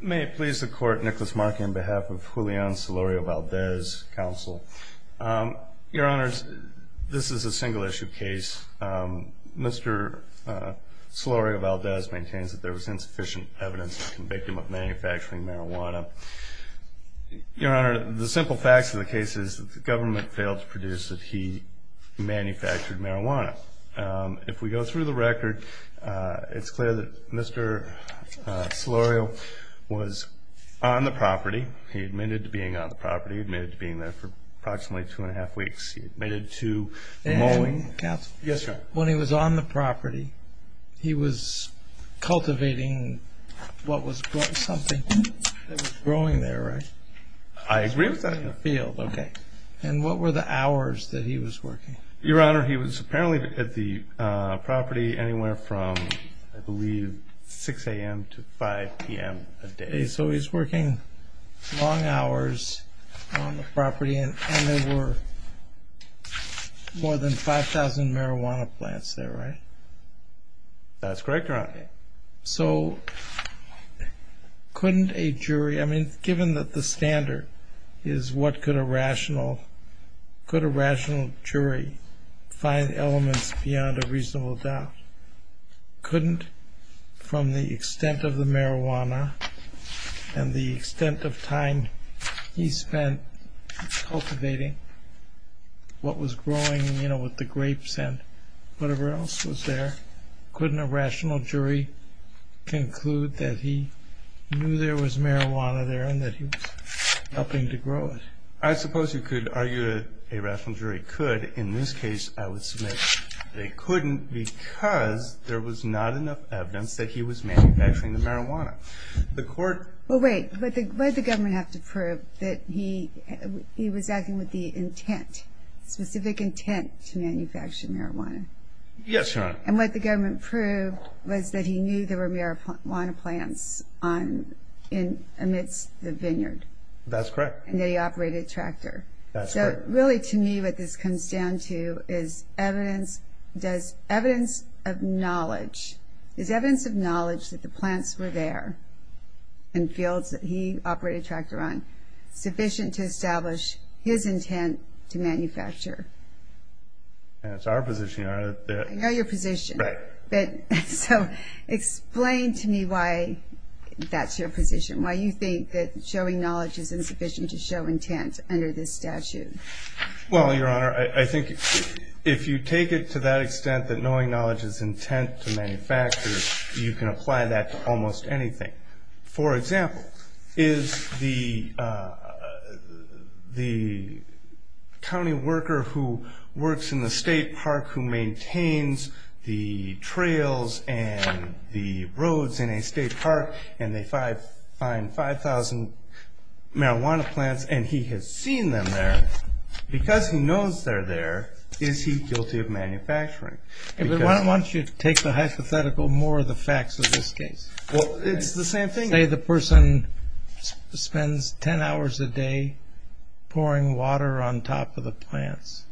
May it please the court, Nicholas Markey on behalf of Julian Solorio-Valdez counsel. Your honors, this is a single-issue case. Mr. Solorio-Valdez maintains that there was insufficient evidence to convict him of manufacturing marijuana. Your honor, the simple facts of the case is that the government failed to produce that he manufactured marijuana. If we go through the record it's clear that Mr. Solorio was on the property. He admitted to being on the property, admitted to being there for approximately two and a half weeks. He admitted to mowing. When he was on the property he was cultivating what was growing there, right? I agree with that. And what were the hours that he was working? Your honor, he was apparently at the property anywhere from I believe 6 a.m. to 5 p.m. a day. So he's working long hours on the property and there were more than 5,000 marijuana plants there, right? That's correct, your honor. So couldn't a jury, I mean given that the standard is what could a rational jury find elements beyond a reasonable doubt? Couldn't from the extent of the marijuana and the extent of time he spent cultivating what was growing, you know, with the grapes and whatever else was there, couldn't a rational jury conclude that he knew there was marijuana there and that he was helping to grow it? I suppose you could argue a rational jury could. In this case, I would submit they couldn't because there was not enough evidence that he was manufacturing the marijuana. The court... Well wait, why did the government have to prove that he was acting with the intent, specific intent to manufacture marijuana? Yes, your honor. And what the government proved was that he knew there were marijuana plants amidst the vineyard. That's correct. And that he operated a tractor. So really to me what this comes down to is evidence, does evidence of knowledge, is evidence of knowledge that the plants were there in fields that he operated a tractor on sufficient to establish his intent to manufacture? That's our position, your honor. I know your position. Right. So explain to me why that's your position, why you think that showing knowledge is insufficient to show intent under this statute. Well, your honor, I think if you take it to that extent that knowing knowledge is intent to manufacture, you can apply that to almost anything. For example, is the trails and the roads in a state park and they find 5,000 marijuana plants and he has seen them there, because he knows they're there, is he guilty of manufacturing? Why don't you take the hypothetical more of the facts of this case? Well, it's the same thing. Say the person spends 10 hours a day pouring water on top of the plants.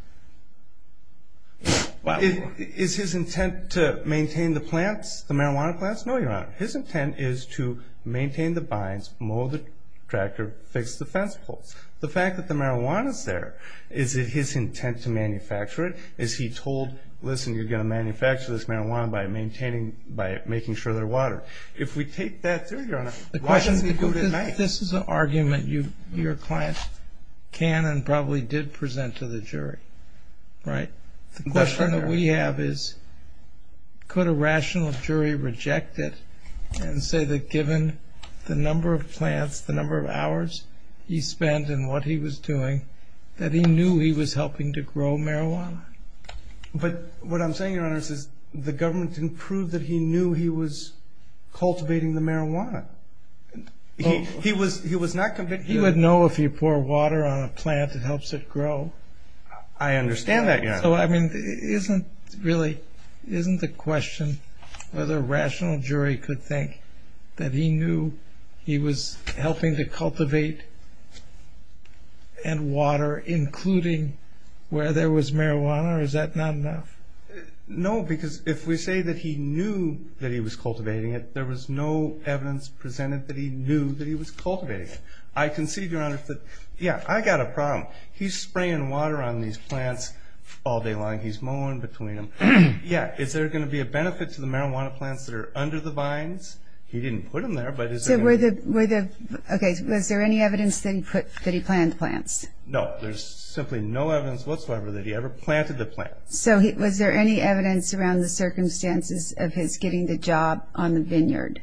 Is his intent to maintain the plants, the marijuana plants? No, your honor. His intent is to maintain the vines, mow the tractor, fix the fence poles. The fact that the marijuana is there, is it his intent to manufacture it? Is he told, listen, you're going to manufacture this marijuana by maintaining, by making sure they're watered? If we take that through, your client can and probably did present to the jury, right? The question that we have is, could a rational jury reject it and say that given the number of plants, the number of hours he spent and what he was doing, that he knew he was helping to grow marijuana? But what I'm saying, your honor, is the government didn't prove that he knew he was cultivating the marijuana. He was not convinced. He would know if you pour water on a plant, it helps it grow. I understand that, your honor. So, I mean, isn't really, isn't the question whether a rational jury could think that he knew he was helping to cultivate and water, including where there was marijuana, or is that not enough? No, because if we say that he knew that he was cultivating it, there was no evidence presented that he knew that he was cultivating it. I concede, your honor, that, yeah, I got a problem. He's spraying water on these plants all day long. He's mowing between them. Yeah, is there going to be a benefit to the marijuana plants that are under the vines? He didn't put them there, but is there going to be? Okay, was there any evidence that he planted plants? No, there's simply no evidence whatsoever that he ever planted the plants. So, was there any evidence around the circumstances of his getting the job on Vineyard?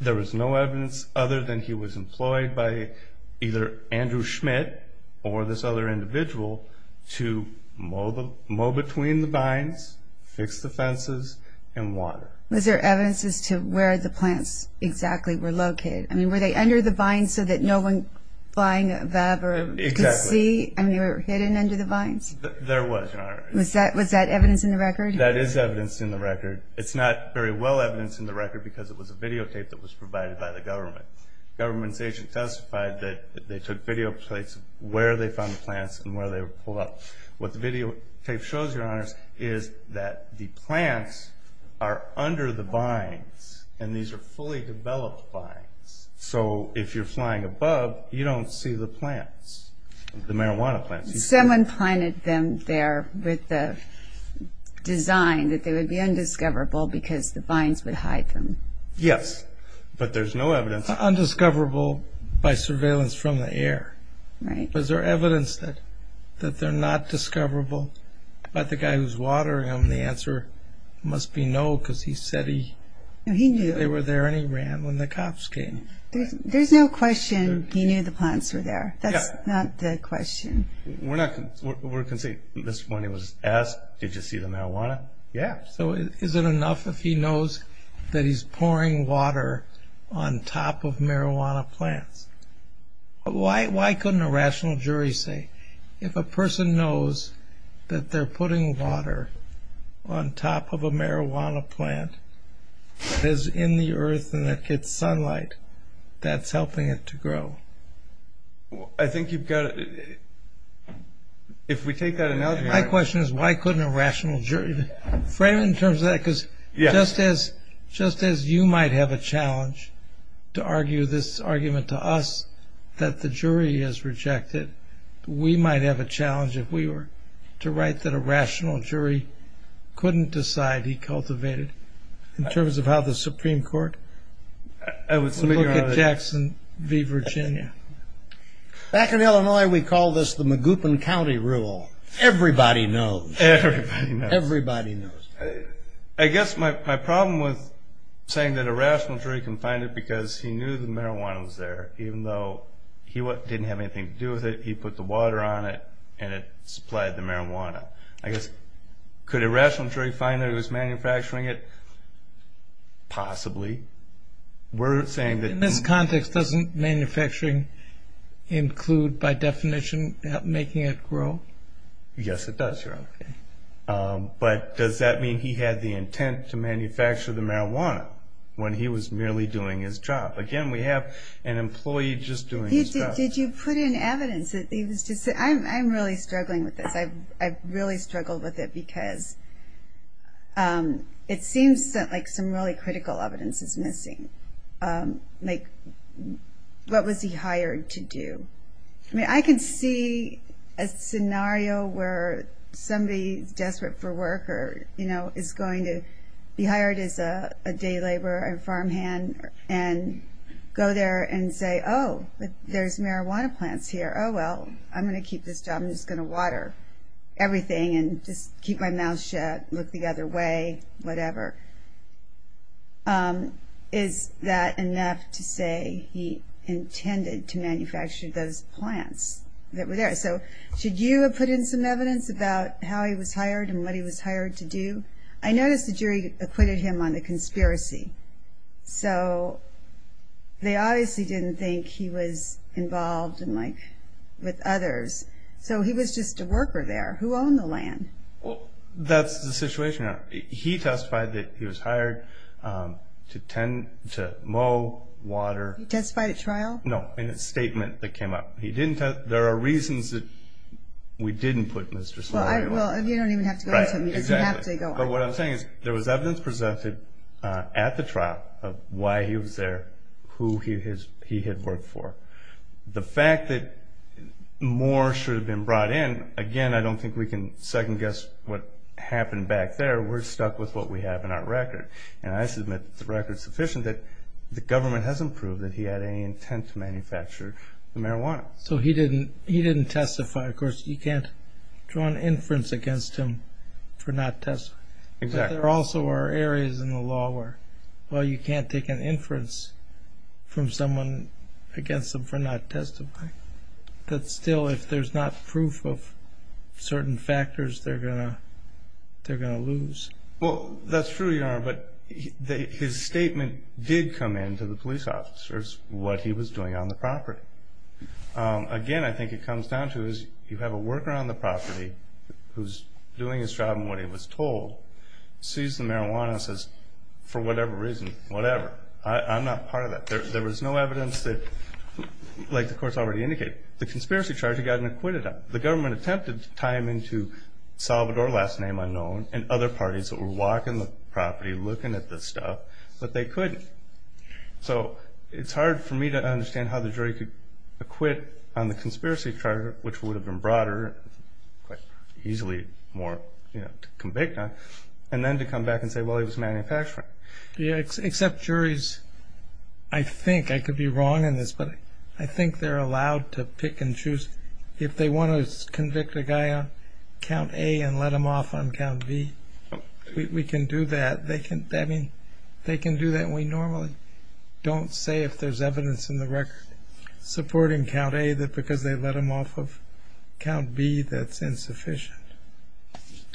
There was no evidence other than he was employed by either Andrew Schmidt or this other individual to mow between the vines, fix the fences, and water. Was there evidence as to where the plants exactly were located? I mean, were they under the vines so that no one flying a VAB or could see? Exactly. I mean, they were hidden under the vines? There was, your honor. Was that evidence in the record? That is evidence in the record because it was a videotape that was provided by the government. The government's agent testified that they took video plates of where they found the plants and where they were pulled up. What the videotape shows, your honors, is that the plants are under the vines, and these are fully developed vines. So, if you're flying above, you don't see the plants, the marijuana plants. Someone planted them there with the design that they would be undiscoverable because the vines would bite them. Yes, but there's no evidence. Undiscoverable by surveillance from the air. Right. Was there evidence that they're not discoverable by the guy who's watering them? The answer must be no because he said he knew they were there and he ran when the cops came. There's no question he knew the plants were there. That's not the question. We can say, at this point, he was asked, did you see the he's pouring water on top of marijuana plants? Why couldn't a rational jury say if a person knows that they're putting water on top of a marijuana plant that is in the earth and that gets sunlight, that's helping it to grow? I think you've got it. If we take that analogy... My question is why couldn't a rational jury frame it in just as you might have a challenge to argue this argument to us that the jury has rejected, we might have a challenge if we were to write that a rational jury couldn't decide he cultivated in terms of how the Supreme Court would look at Jackson v. Virginia. Back in Illinois, we call this the Magoopin County Rule. Everybody knows. Everybody knows. Everybody knows. I guess my problem with saying that a rational jury can find it because he knew the marijuana was there, even though he didn't have anything to do with it. He put the water on it and it supplied the marijuana. I guess, could a rational jury find that he was manufacturing it? Possibly. In this context, doesn't manufacturing include, by definition, making it grow? Yes, it does, Your Honor. But does that mean he had the intent to manufacture the marijuana when he was merely doing his job? Again, we have an employee just doing his job. Did you put in evidence? I'm really struggling with this. I've really struggled with it because it seems like some really critical evidence is missing. What was he hired to do? I can see a scenario where somebody desperate for work is going to be hired as a day laborer and farmhand and go there and say, oh, there's marijuana plants here. Oh, well, I'm going to keep this job. I'm just going to water everything and just keep my mouth shut, look the other way, whatever. Is that enough to say he intended to manufacture those plants that were there? Should you have put in some evidence about how he was hired and what he was hired to do? I noticed the jury acquitted him on the conspiracy. They obviously didn't think he was involved with others. He was just a worker there. Who owned the land? That's the situation. He testified that he was hired to mow, water. He testified at trial? No, in a statement that came up. There are reasons that we didn't put Mr. Slater in. You don't even have to go into it because you have to go into it. What I'm saying is there was evidence presented at the trial of why he was there, who he had worked for. The fact that more should have been brought in, again, I don't think we can second guess what happened back there. We're stuck with what we have in our record. I submit that the record's sufficient that the government hasn't proved that he had any intent to manufacture the marijuana. He didn't testify. Of course, you can't draw an inference against him for not testifying. Exactly. There also are areas in the law where you can't take an inference from someone against them for not testifying. Still, if there's not proof of certain factors, they're going to lose. That's true, Your Honor, but his statement did come in to the police officers what he was doing on the property. Again, I think it comes down to is you have a worker on the property who's doing his job and what he was told. Sees the marijuana and says, for whatever reason, whatever. I'm not part of that. There was no evidence that, like the court's already indicated, the conspiracy charge had gotten acquitted on. The government attempted to tie him into Salvador, last name unknown, and other parties that were walking the property looking at this stuff, but they couldn't. It's hard for me to understand how the jury could acquit on the conspiracy charge, which would have been broader, quite easily more to convict on, and then to come back and say, well, he was a manufacturer. Except juries, I think, I could be wrong in this, but I think they're allowed to pick and choose. If they want to convict a guy on count A and let him off on count B, we can do that. They can do that. We normally don't say if there's evidence in the record Supporting count A, that because they let him off of count B, that's insufficient.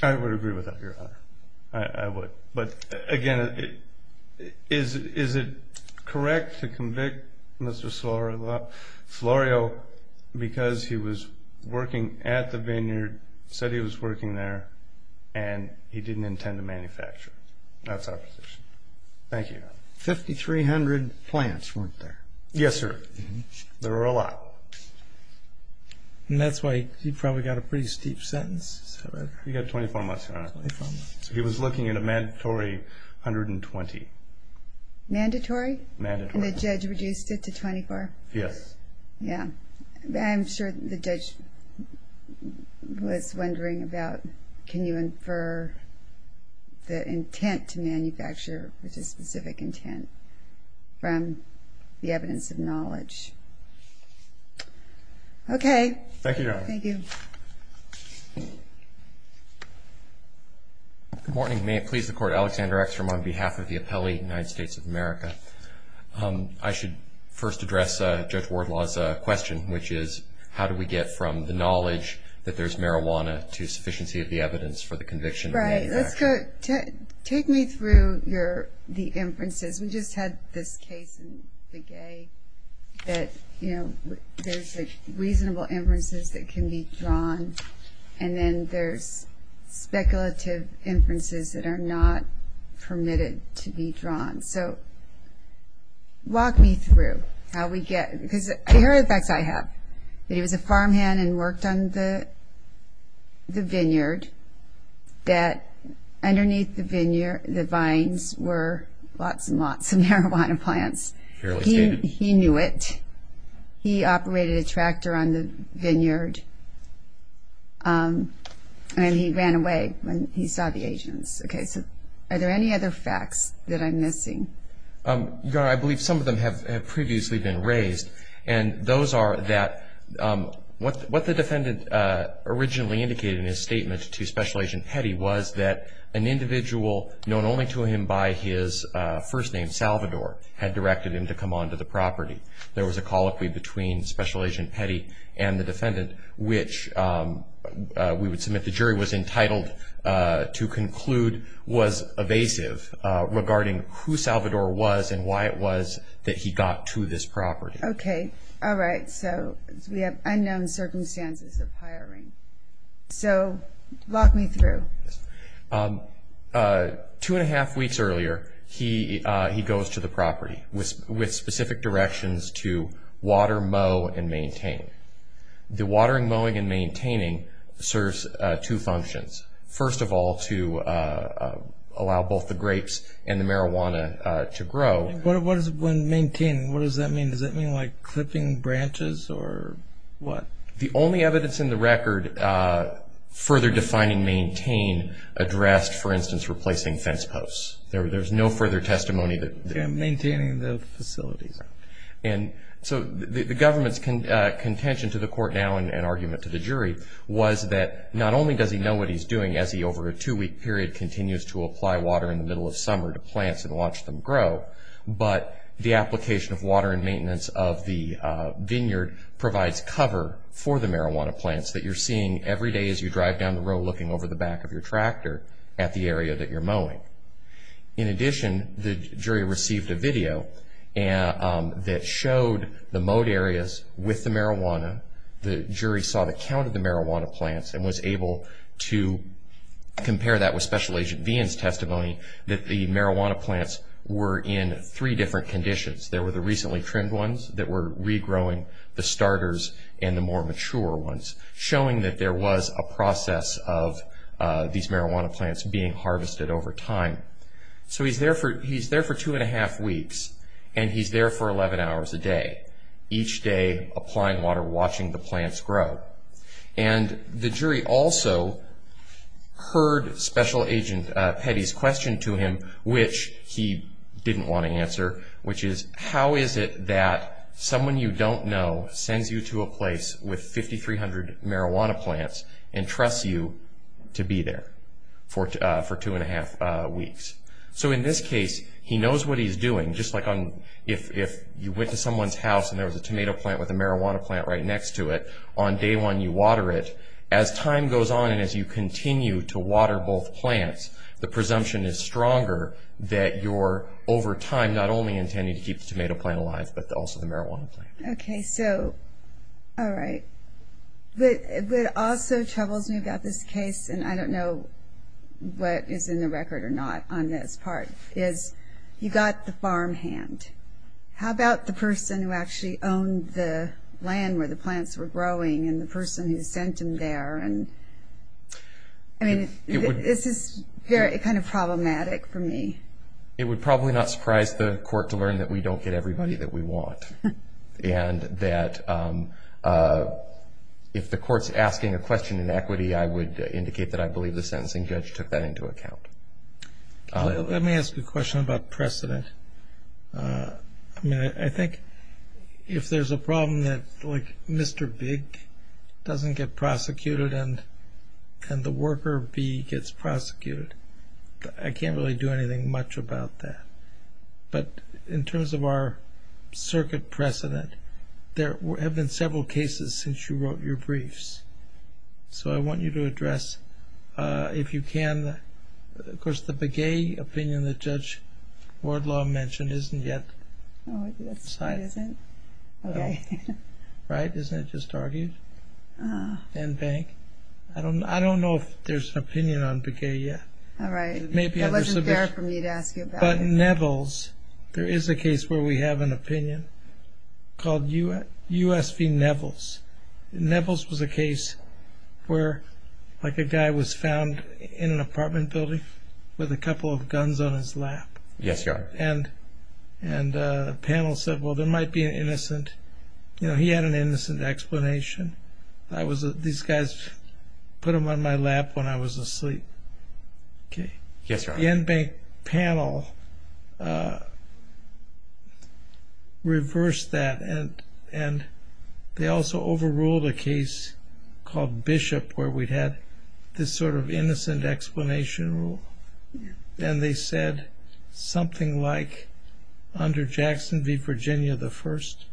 I would agree with that, Your Honor. I would. But again, is it correct to convict Mr. Florio because he was working at the vineyard, said he was working there, and he didn't intend to manufacture? That's our position. Thank you, Your Honor. 5,300 plants weren't there. Yes, sir. There were a lot. And that's why he probably got a pretty steep sentence. He got 24 months, Your Honor. He was looking at a mandatory 120. Mandatory? Mandatory. And the judge reduced it to 24? Yes. Yeah. I'm sure the judge was wondering about, can you infer the intent to manufacture, which specific intent, from the evidence of knowledge? Okay. Thank you, Your Honor. Thank you. Good morning. May it please the Court, Alexander Exrum, on behalf of the Appellee, United States of America. I should first address Judge Wardlaw's question, which is, how do we get from the knowledge that there's marijuana to sufficiency of the evidence for the conviction? Right. Let's go, take me through your, the inferences. We just had this case in Begay that, you know, there's reasonable inferences that can be drawn, and then there's speculative inferences that are not permitted to be drawn. So, walk me through how we get, because here are the facts I have, that he was a farmhand and worked on the vineyard, that underneath the vineyard, the vines were lots and lots of marijuana plants. He knew it. He operated a tractor on the vineyard, and he ran away when he saw the agents. Okay, so are there any other facts that I'm missing? Your Honor, I believe some of them have previously been raised, and those are that, what the defendant originally indicated in his statement to Special Agent Petty was that an individual known only to him by his first name, Salvador, had directed him to come onto the property. There was a colloquy between Special Agent Petty and the defendant, which we would submit the jury was entitled to conclude was evasive regarding who Salvador was and why it was that he got to this property. Okay, all right, so we have unknown circumstances of hiring. So, walk me through. Two and a half weeks earlier, he goes to the property with specific directions to water, mow, and maintain. The only evidence in the record further defining maintain addressed, for instance, replacing fence posts. There's no further testimony. Maintaining the facilities. So, the government's contention to the court now and argument to the jury was that not only does he know what he's doing as he, over a two-week period, continues to apply water in the middle of summer to plants and watch them grow, but the application of water and maintenance of the vineyard provides cover for the marijuana plants that you're seeing every day as you drive down the road looking over the back of your tractor at the area that you're mowing. In addition, the jury received a video that showed the mowed areas with the marijuana. The jury saw the count of the marijuana plants and was able to compare that with Special Agent Vian's testimony that the marijuana plants were in three different conditions. There were the recently trimmed ones that were regrowing, the starters, and the more mature ones, showing that there was a process of these marijuana plants being harvested over time. So, he's there for two and a half weeks, and he's there for 11 hours a day. Each day, applying water, watching the plants grow. And the jury also heard Special Agent Petty's question to him, which he didn't want to answer, which is, how is it that someone you don't know sends you to a place with 5,300 marijuana plants and trusts you to be there for two and a half weeks? So, in this case, he knows what he's doing, just like if you went to someone's house and there was a tomato plant with a marijuana plant right next to it, on day one you water it. As time goes on and as you continue to water both plants, the presumption is stronger that you're, over time, not only intending to keep the tomato plant alive, but also the marijuana plant. Okay, so, all right. What also troubles me about this case, and I don't know what is in the record or not on this part, is you got the farm hand. How about the person who actually owned the land where the plants were growing and the person who sent him there? I mean, this is kind of problematic for me. It would probably not surprise the court to learn that we don't get everybody that we want. And that if the court's asking a question in equity, I would indicate that I believe the sentencing judge took that into account. Let me ask a question about precedent. I mean, I think if there's a problem that, like, Mr. Big doesn't get prosecuted and the worker B gets prosecuted, I can't really do anything much about that. But in terms of our circuit precedent, there have been several cases since you wrote your briefs. So, I want you to address, if you can, of course, the Begay opinion that Judge Wardlaw mentioned isn't yet cited. Oh, it isn't? Okay. Right? Isn't it just argued? Ah. Van Bank. I don't know if there's an opinion on Begay yet. All right. It may be under submission. That wasn't fair for me to ask you about it. But Nevels, there is a case where we have an opinion called U.S. v. Nevels. Nevels was a case where, like, a guy was found in an apartment building with a couple of guns on his lap. Yes, Your Honor. And the panel said, well, there might be an innocent, you know, he had an innocent explanation. These guys put them on my lap when I was asleep. Okay. Yes, Your Honor. The Van Bank panel reversed that, and they also overruled a case called Bishop where we had this sort of innocent explanation rule. And they said something like, under Jackson v. Virginia, the first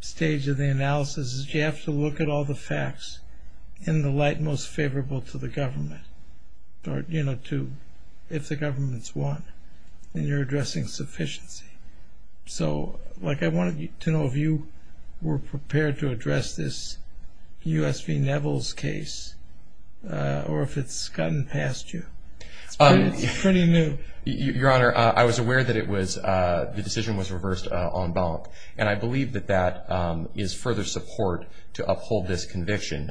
stage of the analysis is you have to look at all the if the government's won and you're addressing sufficiency. So, like, I wanted to know if you were prepared to address this U.S. v. Nevels case or if it's gotten past you. It's pretty new. Your Honor, I was aware that it was, the decision was reversed on Bank, and I believe that that is further support to uphold this conviction.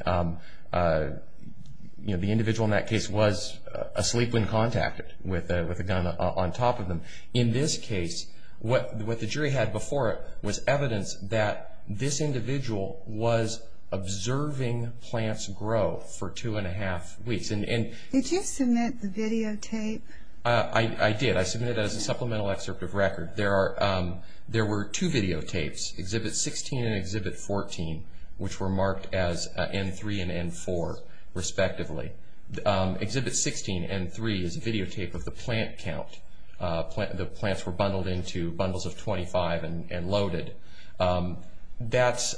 You know, the individual in that case was asleep when contacted with a gun on top of them. In this case, what the jury had before it was evidence that this individual was observing plants grow for two and a half weeks. Did you submit the videotape? I did. I submitted it as a supplemental excerpt of record. There were two videotapes, Exhibit 16 and Exhibit 14, which were marked as N3 and N4, respectively. Exhibit 16, N3, is a videotape of the plant count. The plants were bundled into bundles of 25 and loaded. That,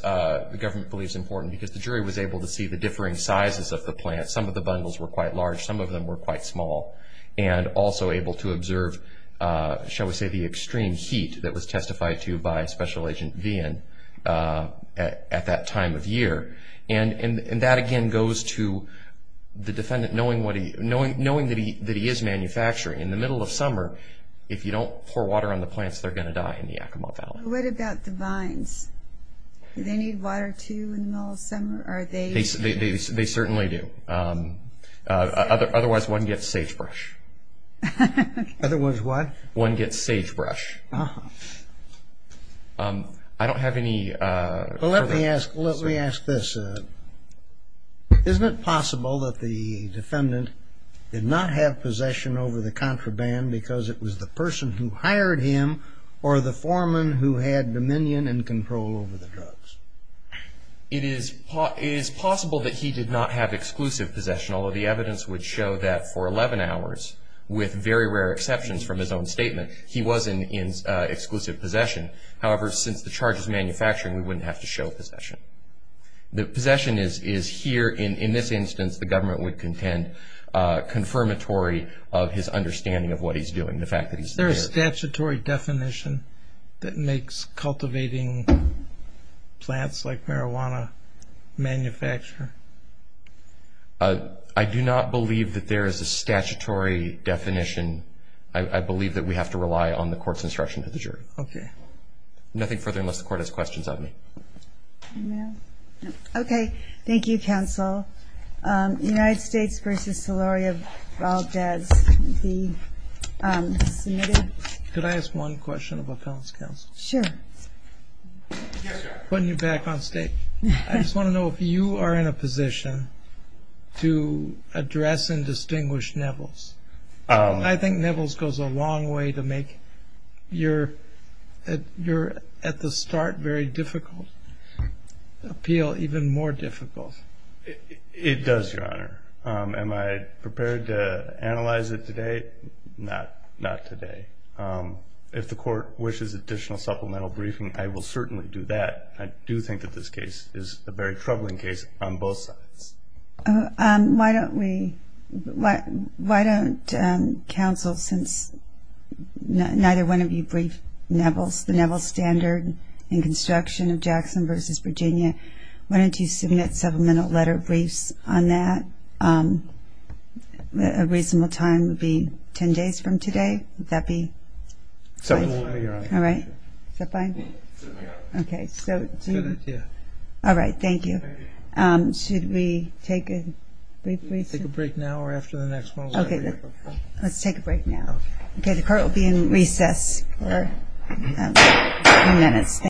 the government believes, is important because the jury was able to see the differing sizes of the plants. Some of the bundles were quite large. Some of them were quite small. And also able to observe, shall we say, the extreme heat that was testified to by Special Agent Vian at that time of year. And that, again, goes to the defendant knowing that he is manufacturing. In the middle of summer, if you don't pour water on the plants, they're going to die in the Yakima Valley. What about the vines? Do they need water, too, in the middle of summer? They certainly do. Otherwise, one gets sagebrush. Otherwise what? One gets sagebrush. I don't have any further questions. Well, let me ask this. Isn't it possible that the defendant did not have possession over the contraband because it was the person who hired him or the foreman who had dominion and control over the drugs? It is possible that he did not have exclusive possession, although the evidence would show that for 11 hours, with very rare exceptions from his own statement, he was in exclusive possession. However, since the charge is manufacturing, we wouldn't have to show possession. The possession is here. In this instance, the government would contend confirmatory of his understanding of what he's doing, the fact that he's there. Is there a statutory definition that makes cultivating plants like marijuana manufacture? I do not believe that there is a statutory definition. I believe that we have to rely on the court's instruction to the jury. Okay. Nothing further, unless the court has questions of me. Okay. Thank you, counsel. United States v. Solori of Valdez. Could I ask one question about counsel? Sure. Yes, sir. Putting you back on stage. I just want to know if you are in a position to address and distinguish Nevils. I think Nevils goes a long way to make your at-the-start very difficult appeal even more difficult. It does, Your Honor. Am I prepared to analyze it today? Not today. If the court wishes additional supplemental briefing, I will certainly do that. I do think that this case is a very troubling case on both sides. Why don't we – why don't counsel, since neither one of you briefed Nevils, the Nevils standard in construction of Jackson v. Virginia, why don't you submit supplemental letter briefs on that? A reasonable time would be ten days from today. Would that be right? All right. Is that fine? Okay. Good idea. All right. Thank you. Should we take a brief briefing? Let's take a break now or after the next one. Okay. Let's take a break now. Okay. The court will be in recess for a few minutes. Thank you.